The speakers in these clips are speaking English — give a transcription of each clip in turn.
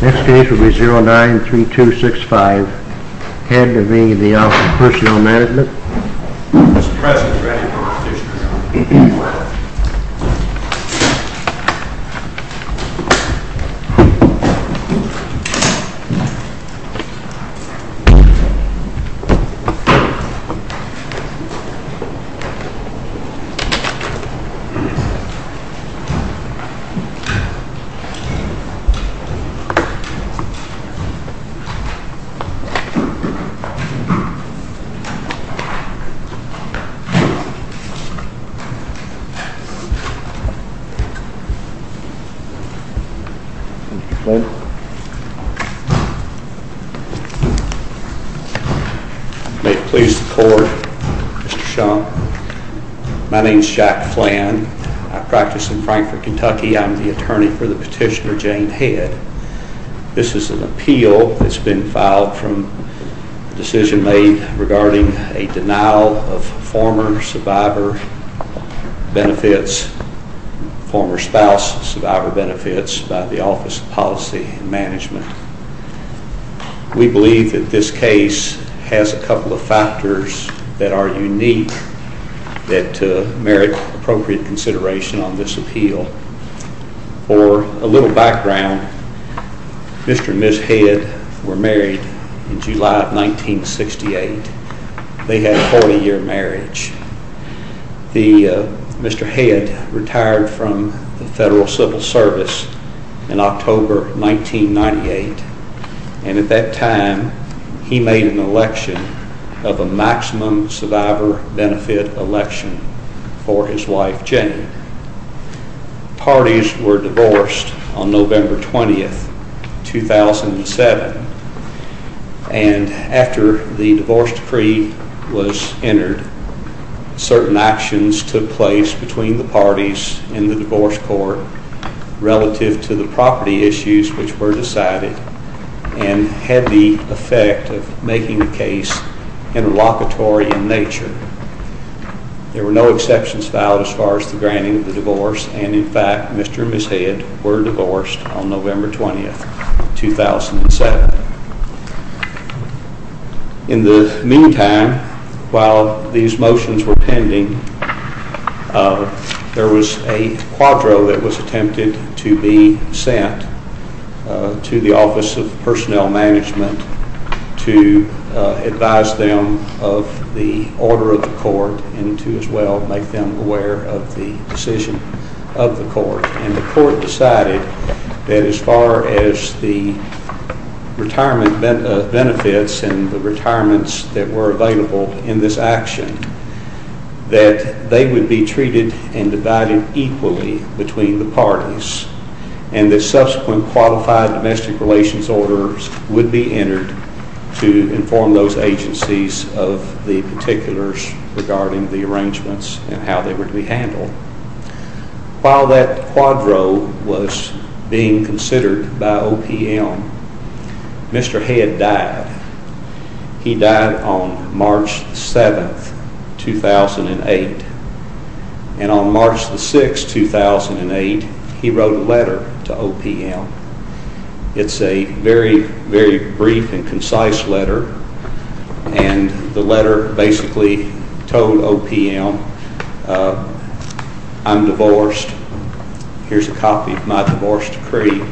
Next case will be 09-3265, head of the Office of Personnel Management. Mr. President, we're ready for the procedure. May it please the Court, Mr. Schumpf. My name is Jack Flann. I practice in Frankfort, Kentucky. I'm the attorney for the petitioner Jane Head. This is an appeal that's been filed from a decision made regarding a denial of former survivor benefits, former spouse survivor benefits by the Office of Policy and Management. We believe that this case has a couple of factors that are unique that merit appropriate consideration on this appeal. For a little background, Mr. and Ms. Head were married in July of 1968. They had a 40-year marriage. Mr. Head retired from the Federal Civil Service in October 1998, and at that time he made an election of a maximum survivor benefit election for his wife, Jane. Parties were divorced on November 20, 2007, and after the divorce decree was entered, certain actions took place between the parties in the divorce court relative to the property issues which were decided and had the effect of making the case interlocutory in nature. There were no exceptions filed as far as the granting of the divorce, and in fact, Mr. and Ms. Head were divorced on November 20, 2007. There was a quadro that was attempted to be sent to the Office of Personnel Management to advise them of the order of the court and to as well make them aware of the decision of the court, and the court decided that as far as the retirement benefits and the retirements that were available in this action, that they would be treated and divided equally between the parties and that subsequent qualified domestic relations orders would be entered to inform those agencies of the particulars regarding the arrangements and how they were to be handled. While that quadro was being considered by OPM, Mr. Head died. He died on March 7, 2008, and on March 6, 2008, he wrote a letter to OPM. It's a very, very brief and concise letter, and the letter basically told OPM, I'm divorced. Here's a copy of my divorce decree.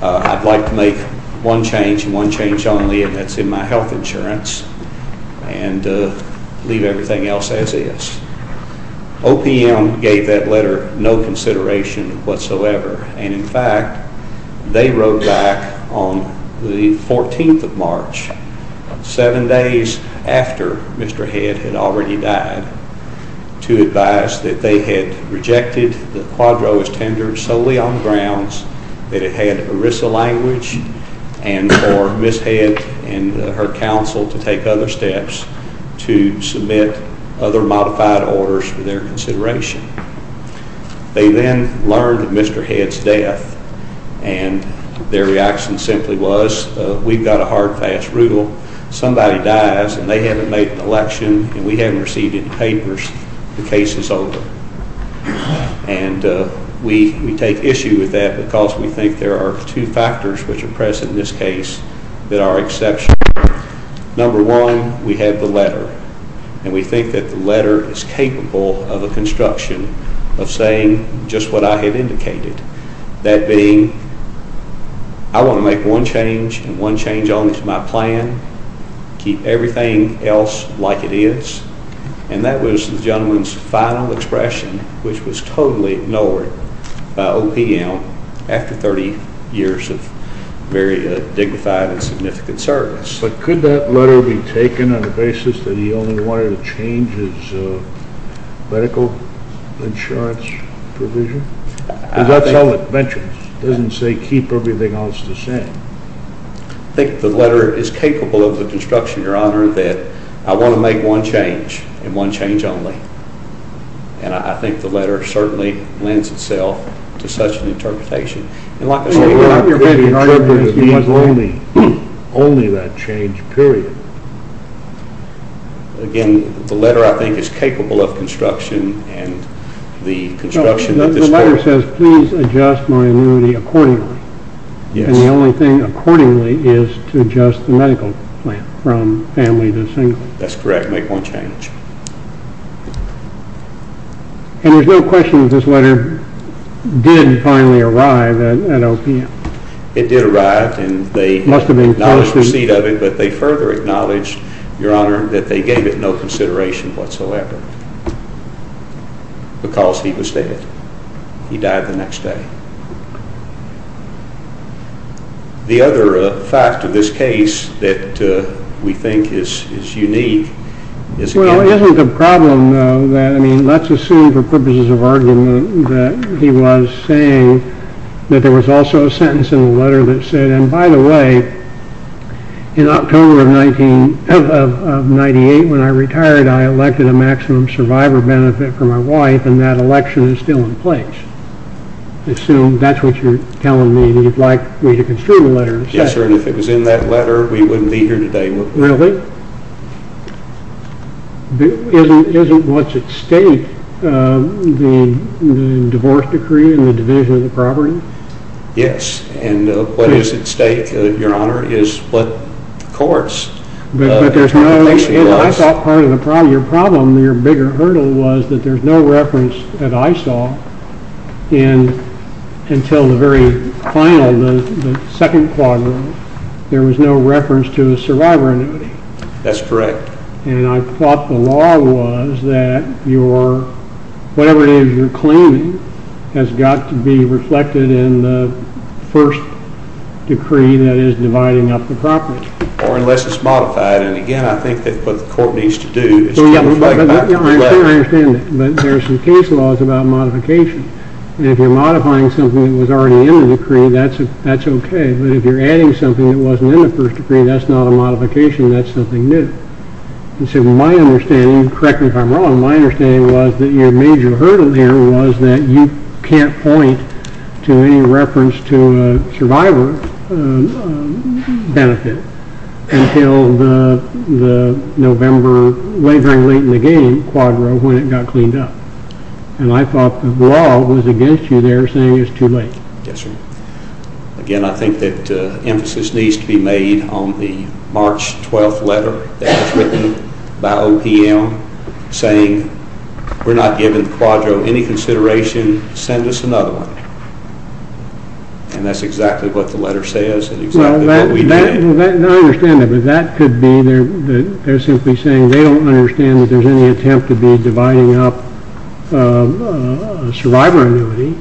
I'd like to make one change and one change only, and that's in my health insurance and leave everything else as is. OPM gave that letter no consideration whatsoever, and in fact, they wrote back on the 14th of March, seven days after Mr. Head had already died, to advise that they had rejected the quadro as tender solely on the grounds that it had ERISA language and for Ms. Head and her counsel to take other steps to submit other modified orders for their consideration. They then learned of Mr. Head's death, and their reaction simply was, we've got a hard, fast rule. Somebody dies, and they haven't made an election, and we haven't received any papers, the case is over. And we take issue with that because we think there are two factors which are present in this case that are exceptional. Number one, we have the letter, and we think that the letter is capable of a construction of saying just what I had indicated, that being, I want to make one change, and one change only to my plan, keep everything else like it is, and that was the gentleman's final expression, which was totally ignored by OPM after 30 years of very dignified and significant service. But could that letter be taken on the basis that he only wanted to change his medical insurance provision? Because that's all it mentions. It doesn't say keep everything else the same. I think the letter is capable of the construction, Your Honor, that I want to make one change, and one change only. And I think the letter certainly lends itself to such an interpretation. And like I say, what I'm trying to interpret is only that change, period. Again, the letter, I think, is capable of construction, and the construction of this court. The letter says please adjust my annuity accordingly. Yes. And the only thing accordingly is to adjust the medical plan from family to single. That's correct, make one change. And there's no question that this letter did finally arrive at OPM. It did arrive, and they acknowledged the receipt of it, but they further acknowledged, Your Honor, that they gave it no consideration whatsoever because he was dead. He died the next day. The other fact of this case that we think is unique is again- Well, isn't the problem, though, that, I mean, let's assume for purposes of argument that he was saying that there was also a sentence in the letter that said, and by the way, in October of 1998 when I retired, I elected a maximum survivor benefit for my wife, and that election is still in place. Assume that's what you're telling me, that you'd like me to construe the letter. Yes, sir, and if it was in that letter, we wouldn't be here today. Really? Isn't what's at stake the divorce decree and the division of the property? Yes, and what is at stake, Your Honor, is what courts. But I thought part of your problem, your bigger hurdle, was that there's no reference that I saw until the very final, the second quadrant. There was no reference to a survivor annuity. That's correct. And I thought the law was that whatever it is you're claiming has got to be reflected in the first decree that is dividing up the property. Or unless it's modified, and, again, I think that's what the court needs to do. So, yeah, I understand that, but there are some case laws about modification, and if you're modifying something that was already in the decree, that's okay, but if you're adding something that wasn't in the first decree, that's not a modification, that's something new. And so my understanding, correct me if I'm wrong, my understanding was that your major hurdle there was that you can't point to any reference to a survivor benefit until the November, way very late in the game, quadrant when it got cleaned up. And I thought the law was against you there saying it's too late. Yes, sir. Again, I think that emphasis needs to be made on the March 12th letter that was written by OPM saying we're not giving the quadro any consideration. Send us another one. And that's exactly what the letter says and exactly what we did. I understand that, but that could be they're simply saying they don't understand that there's any attempt to be dividing up survivor annuity,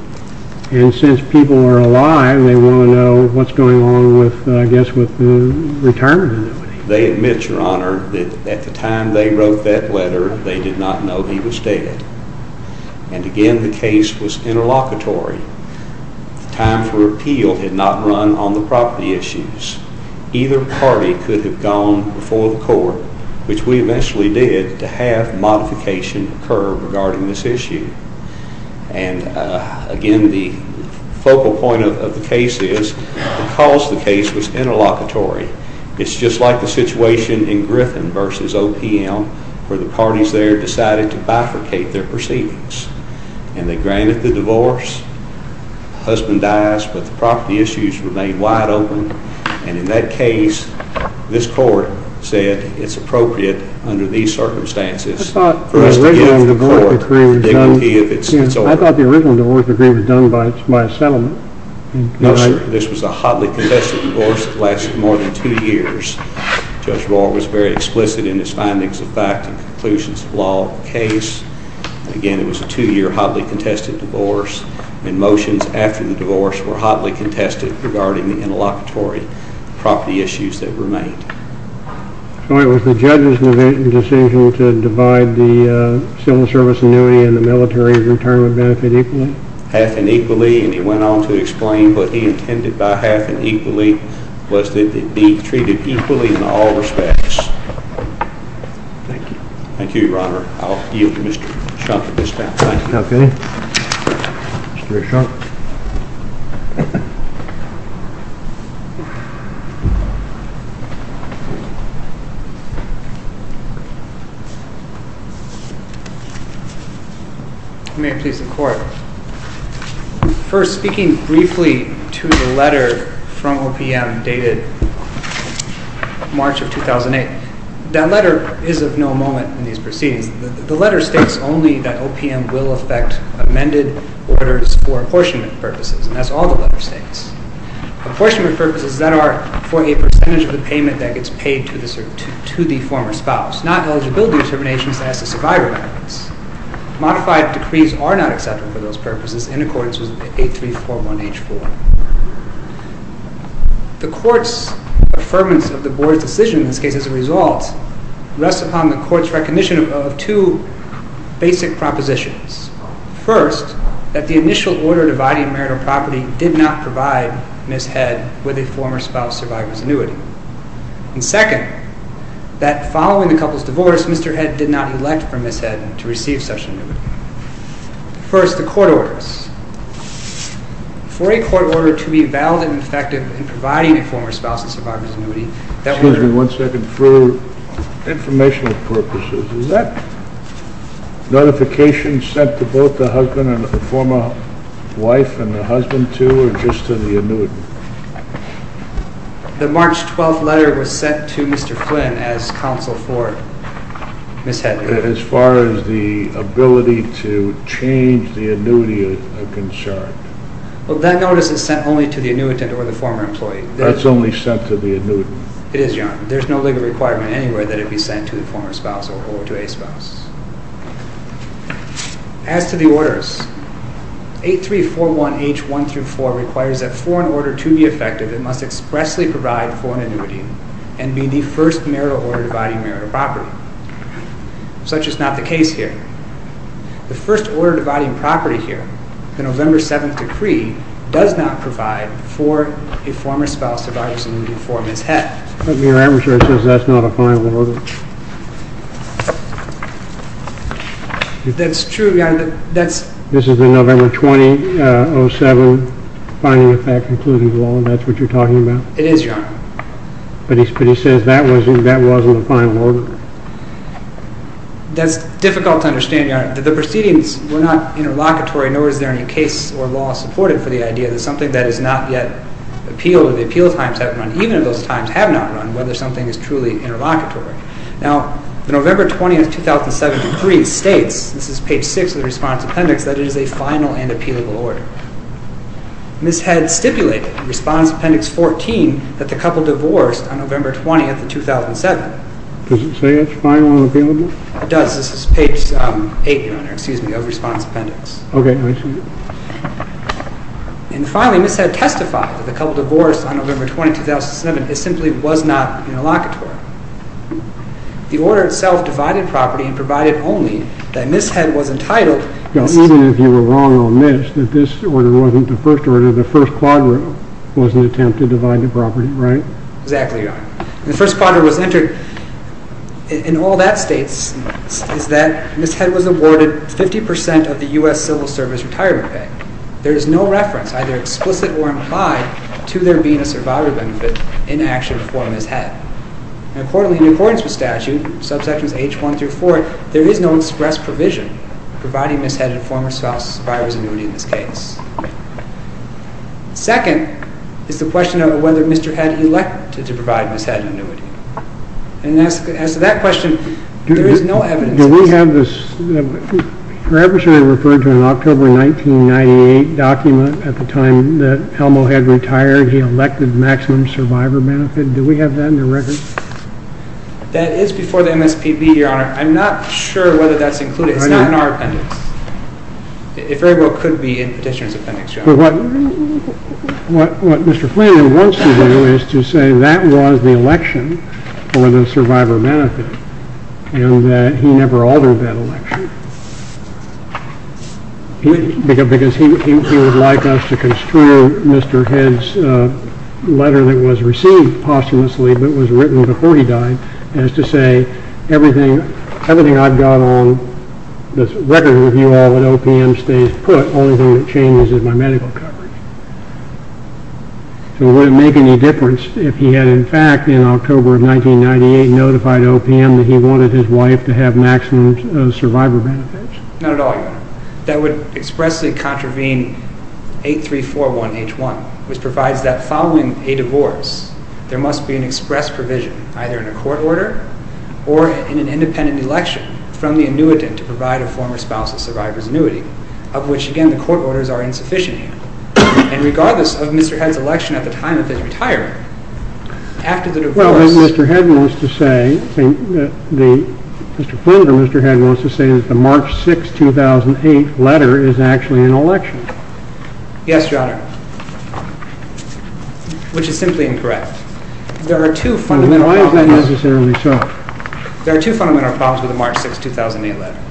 and since people are alive, they want to know what's going on with, I guess, with the retirement annuity. They admit, Your Honor, that at the time they wrote that letter, they did not know he was dead. And, again, the case was interlocutory. The time for appeal had not run on the property issues. Either party could have gone before the court, which we eventually did, to have modification occur regarding this issue. And, again, the focal point of the case is because the case was interlocutory, it's just like the situation in Griffin v. OPM, where the parties there decided to bifurcate their proceedings. And they granted the divorce. The husband dies, but the property issues remain wide open. And in that case, this court said it's appropriate under these circumstances. I thought the original divorce agreement was done by a settlement. No, sir. This was a hotly contested divorce that lasted more than two years. Judge Rohr was very explicit in his findings of fact and conclusions of law of the case. Again, it was a two-year hotly contested divorce, and motions after the divorce were hotly contested regarding the interlocutory property issues that remained. All right. Was the judge's decision to divide the civil service annuity and the military's retirement benefit equally? Half and equally, and he went on to explain what he intended by half and equally was that it be treated equally in all respects. Thank you. Thank you, Your Honor. I'll yield to Mr. Schunk at this time. Thank you. Okay. Mr. Schunk. May it please the Court. First, speaking briefly to the letter from OPM dated March of 2008, that letter is of no moment in these proceedings. The letter states only that OPM will affect amended orders for apportionment purposes, and that's all the letter states. Apportionment purposes that are for a percentage of the payment that gets paid to the former spouse, not eligibility determinations as to survivor benefits. Modified decrees are not acceptable for those purposes. In accordance with 8341H4. The Court's affirmance of the Board's decision in this case as a result rests upon the Court's recognition of two basic propositions. First, that the initial order dividing marital property did not provide Ms. Head with a former spouse survivor's annuity. And second, that following the couple's divorce, Mr. Head did not elect for Ms. Head to receive such an annuity. First, the court orders. For a court order to be valid and effective in providing a former spouse a survivor's annuity, Excuse me one second. For informational purposes, is that notification sent to both the husband and the former wife and the husband too, or just to the annuitant? The March 12th letter was sent to Mr. Flynn as counsel for Ms. Head. As far as the ability to change the annuity is concerned? Well, that notice is sent only to the annuitant or the former employee. That's only sent to the annuitant. It is, Your Honor. There's no legal requirement anywhere that it be sent to the former spouse or to a spouse. As to the orders, 8341H1-4 requires that for an order to be effective, it must expressly provide for an annuity and be the first marital order dividing marital property. Such is not the case here. The first order dividing property here, the November 7th decree, does not provide for a former spouse a survivor's annuity for Ms. Head. But your adversary says that's not a final order. That's true, Your Honor. This is the November 2007 finding of fact concluding law, and that's what you're talking about? It is, Your Honor. But he says that wasn't a final order. That's difficult to understand, Your Honor. The proceedings were not interlocutory, nor is there any case or law supported for the idea that something that is not yet appealed or the appeal times have not run, even if those times have not run, whether something is truly interlocutory. Now, the November 20th 2007 decree states, this is page 6 of the response appendix, that it is a final and appealable order. Ms. Head stipulated, response appendix 14, that the couple divorced on November 20th of 2007. Does it say it's final and appealable? It does. This is page 8, Your Honor, excuse me, of response appendix. Okay, I see. And finally, Ms. Head testified that the couple divorced on November 20th 2007. It simply was not interlocutory. The order itself divided property and provided only that Ms. Head was entitled. Now, even if you were wrong on this, that this order wasn't the first order, the first quadrant was an attempt to divide the property, right? Exactly, Your Honor. The first quadrant was entered. And all that states is that Ms. Head was awarded 50% of the U.S. Civil Service retirement pay. There is no reference, either explicit or implied, to there being a survivor benefit in action before Ms. Head. Accordingly, in accordance with statute, subsections H1 through 4, there is no express provision providing Ms. Head a former spouse buyer's annuity in this case. Second is the question of whether Mr. Head elected to provide Ms. Head an annuity. And as to that question, there is no evidence. Do we have this? Her adversary referred to an October 1998 document at the time that Elmo Head retired. He elected maximum survivor benefit. Do we have that in the record? That is before the MSPB, Your Honor. I'm not sure whether that's included. It's not in our appendix. It very well could be in the petitioner's appendix, Your Honor. What Mr. Flanagan wants to do is to say that was the election for the survivor benefit and that he never altered that election because he would like us to construe Mr. Head's letter that was received posthumously but was written before he died as to say, everything I've got on this record with you all but OPM stays put. The only thing that changes is my medical coverage. So would it make any difference if he had in fact in October of 1998 notified OPM that he wanted his wife to have maximum survivor benefits? Not at all, Your Honor. That would expressly contravene 8341H1, which provides that following a divorce, there must be an express provision either in a court order or in an independent election from the annuitant to provide a former spouse a survivor's annuity, of which again the court orders are insufficient here. And regardless of Mr. Head's election at the time of his retirement, after the divorce Well, Mr. Head wants to say that the March 6, 2008 letter is actually an election. Yes, Your Honor, which is simply incorrect. Why is that necessarily so? There are two fundamental problems with the March 6, 2008 letter.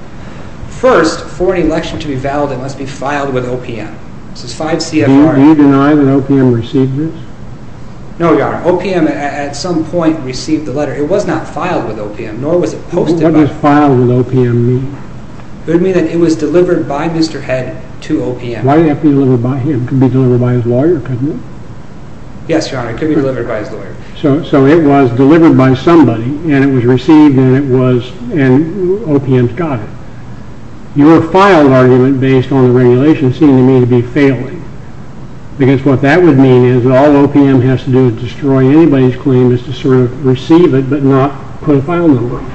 First, for an election to be valid, it must be filed with OPM. Do you deny that OPM received this? No, Your Honor. OPM at some point received the letter. It was not filed with OPM, nor was it posted by OPM. What does filed with OPM mean? It would mean that it was delivered by Mr. Head to OPM. Why did it have to be delivered by him? It could be delivered by his lawyer, couldn't it? Yes, Your Honor, it could be delivered by his lawyer. So it was delivered by somebody, and it was received, and OPM's got it. Your filed argument based on the regulation seemed to me to be failing, because what that would mean is that all OPM has to do to destroy anybody's claim is to sort of receive it but not put a file number on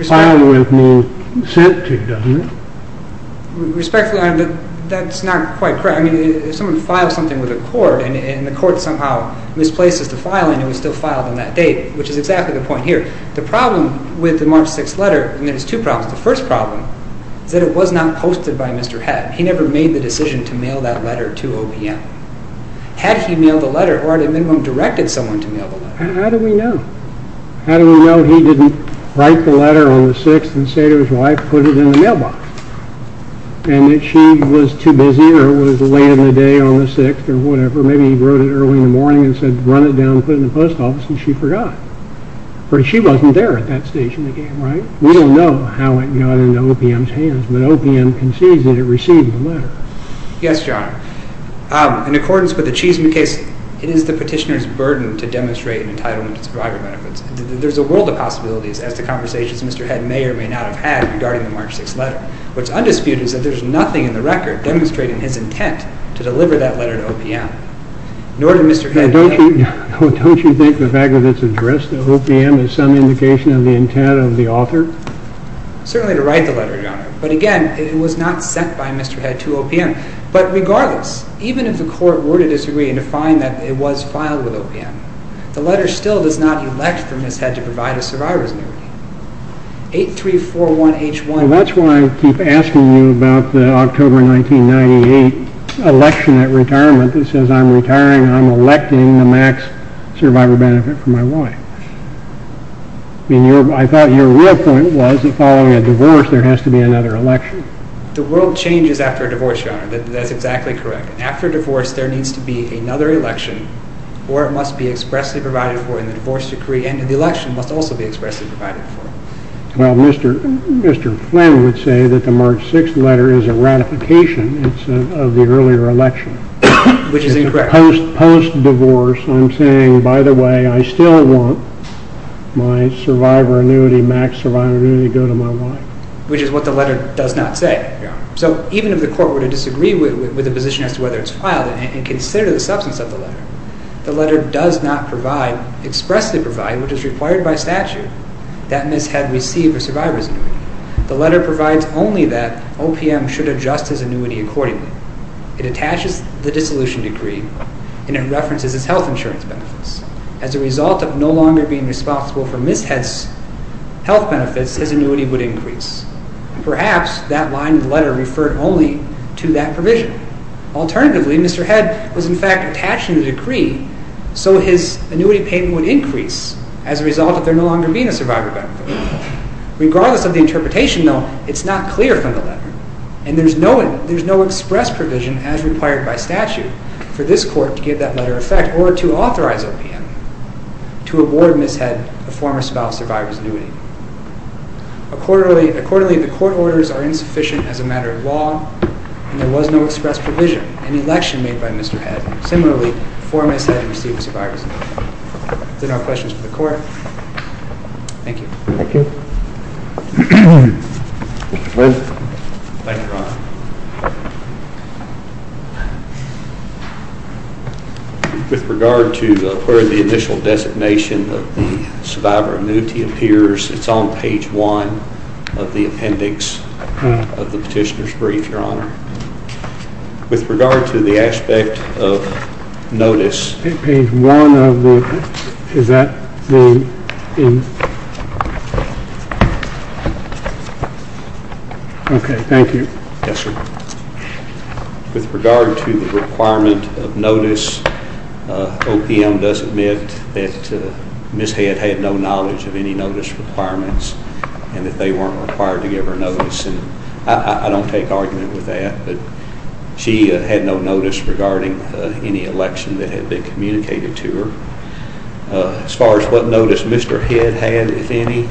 it. Filed with means sent to, doesn't it? Respectfully, Your Honor, that's not quite correct. If someone files something with a court and the court somehow misplaces the file and it was still filed on that date, which is exactly the point here, the problem with the March 6th letter, and there's two problems. The first problem is that it was not posted by Mr. Head. He never made the decision to mail that letter to OPM. Had he mailed the letter or at a minimum directed someone to mail the letter? How do we know? How do we know he didn't write the letter on the 6th and say to his wife, put it in the mailbox, and that she was too busy or was late in the day on the 6th or whatever? Maybe he wrote it early in the morning and said, run it down, put it in the post office, and she forgot. Or she wasn't there at that stage in the game, right? We don't know how it got into OPM's hands, but OPM concedes that it received the letter. Yes, Your Honor. In accordance with the Cheeseman case, it is the petitioner's burden to demonstrate an entitlement to survivor benefits. There's a world of possibilities as to conversations Mr. Head may or may not have had regarding the March 6th letter. What's undisputed is that there's nothing in the record demonstrating his intent to deliver that letter to OPM, nor did Mr. Head. Don't you think the fact that it's addressed to OPM is some indication of the intent of the author? Certainly to write the letter, Your Honor. But again, it was not sent by Mr. Head to OPM. But regardless, even if the court were to disagree and to find that it was filed with OPM, the letter still does not elect for Mr. Head to provide a survivor's liberty. 8341H1... Well, that's why I keep asking you about the October 1998 election at retirement that says, I'm retiring, I'm electing the max survivor benefit for my wife. I thought your real point was that following a divorce, there has to be another election. The world changes after a divorce, Your Honor. That's exactly correct. After a divorce, there needs to be another election, or it must be expressly provided for in the divorce decree, and the election must also be expressly provided for. Well, Mr. Flynn would say that the March 6th letter is a ratification of the earlier election. Which is incorrect. Post-divorce, I'm saying, by the way, I still want my max survivor annuity to go to my wife. Which is what the letter does not say. So even if the court were to disagree with the position as to whether it's filed and consider the substance of the letter, the letter does not expressly provide, which is required by statute, that Ms. Head receive a survivor's annuity. The letter provides only that OPM should adjust his annuity accordingly. It attaches the dissolution decree, and it references his health insurance benefits. As a result of no longer being responsible for Ms. Head's health benefits, his annuity would increase. Perhaps that line of the letter referred only to that provision. Alternatively, Mr. Head was in fact attaching the decree so his annuity payment would increase as a result of there no longer being a survivor benefit. Regardless of the interpretation, though, it's not clear from the letter. And there's no express provision as required by statute for this court to give that letter effect or to authorize OPM to award Ms. Head a former spouse survivor's annuity. Accordingly, the court orders are insufficient as a matter of law, and there was no express provision in the election made by Mr. Head. Similarly, before Ms. Head received a survivor's annuity. If there are no questions for the court, thank you. Thank you. Mr. Smith. Thank you, Your Honor. With regard to where the initial designation of the survivor annuity appears, it's on page 1 of the appendix of the petitioner's brief, Your Honor. With regard to the aspect of notice. Page 1 of the appendix. Is that the end? Okay, thank you. Yes, sir. With regard to the requirement of notice, OPM does admit that Ms. Head had no knowledge of any notice requirements and that they weren't required to give her notice. I don't take argument with that, but she had no notice regarding any election that had been communicated to her. As far as what notice Mr. Head had, if any,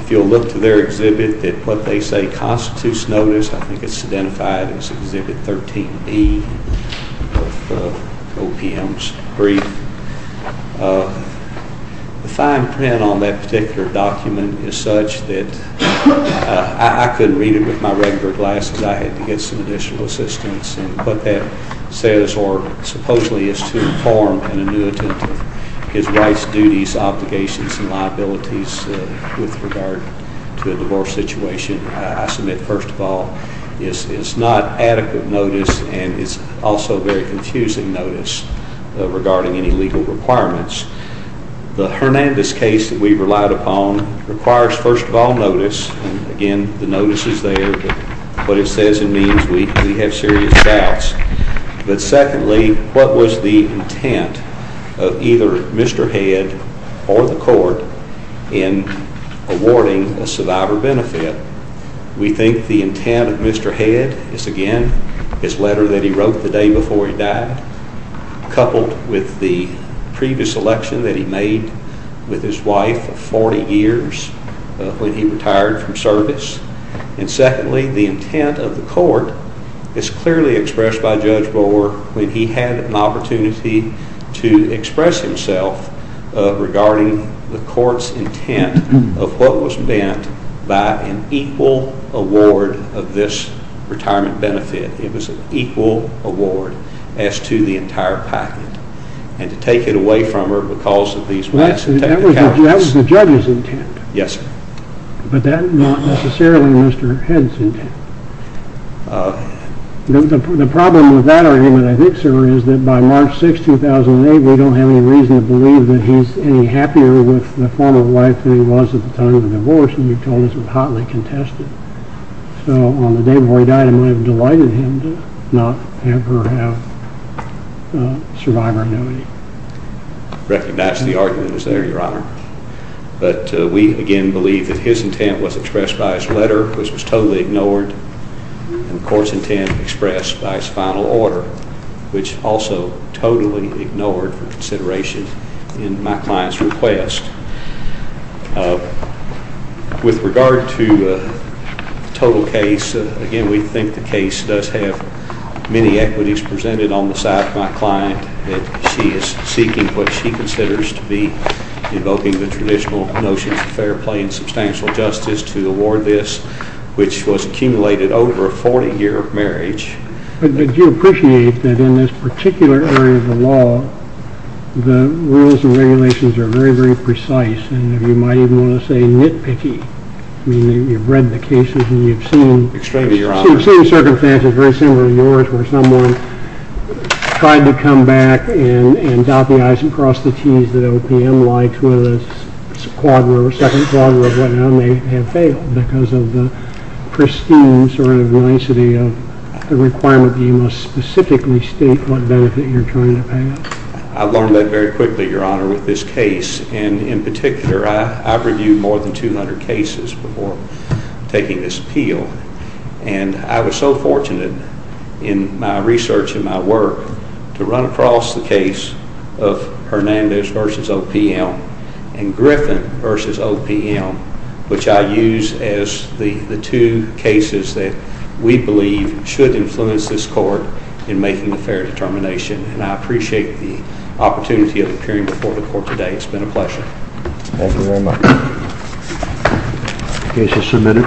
if you'll look to their exhibit, what they say constitutes notice, I think it's identified as Exhibit 13B of OPM's brief. The fine print on that particular document is such that I couldn't read it with my regular glasses. I had to get some additional assistance, and what that says or supposedly is to inform an annuitant of his rights, duties, obligations, and liabilities with regard to a divorce situation. I submit, first of all, it's not adequate notice, and it's also very confusing notice regarding any legal requirements. The Hernandez case that we relied upon requires, first of all, notice. Again, the notice is there, but what it says and means, we have serious doubts. But secondly, what was the intent of either Mr. Head or the court in awarding a survivor benefit? We think the intent of Mr. Head is, again, his letter that he wrote the day before he died, coupled with the previous election that he made with his wife of 40 years when he retired from service. And secondly, the intent of the court is clearly expressed by Judge Bohr when he had an opportunity to express himself regarding the court's intent of what was meant by an equal award of this retirement benefit. It was an equal award as to the entire package, and to take it away from her because of these rights. That was the judge's intent. Yes, sir. But that's not necessarily Mr. Head's intent. The problem with that argument, I think, sir, is that by March 6, 2008, we don't have any reason to believe that he's any happier with the former wife than he was at the time of the divorce, and you've told us it was hotly contested. So on the day before he died, it might have delighted him to not ever have survivor annuity. I recognize the argument is there, Your Honor. But we, again, believe that his intent was expressed by his letter, which was totally ignored, and the court's intent expressed by his final order, which also totally ignored for consideration in my client's request. With regard to the total case, again, we think the case does have many equities presented on the side of my client that she is seeking what she considers to be invoking the traditional notions of fair play and substantial justice to award this, which was accumulated over a 40-year marriage. But do you appreciate that in this particular area of the law, the rules and regulations are very, very precise, and you might even want to say nitpicky? I mean, you've read the cases, and you've seen circumstances very similar to yours where someone tried to come back and dot the i's and cross the t's, that OPM lied to a squadron or second squadron of what had failed because of the pristine sort of nicety of the requirement that you must specifically state what benefit you're trying to pay. I learned that very quickly, Your Honor, with this case. And in particular, I've reviewed more than 200 cases before taking this appeal, and I was so fortunate in my research and my work to run across the case of Hernandez v. OPM and Griffin v. OPM, which I use as the two cases that we believe should influence this court in making a fair determination. And I appreciate the opportunity of appearing before the court today. It's been a pleasure. Thank you very much. The case is submitted.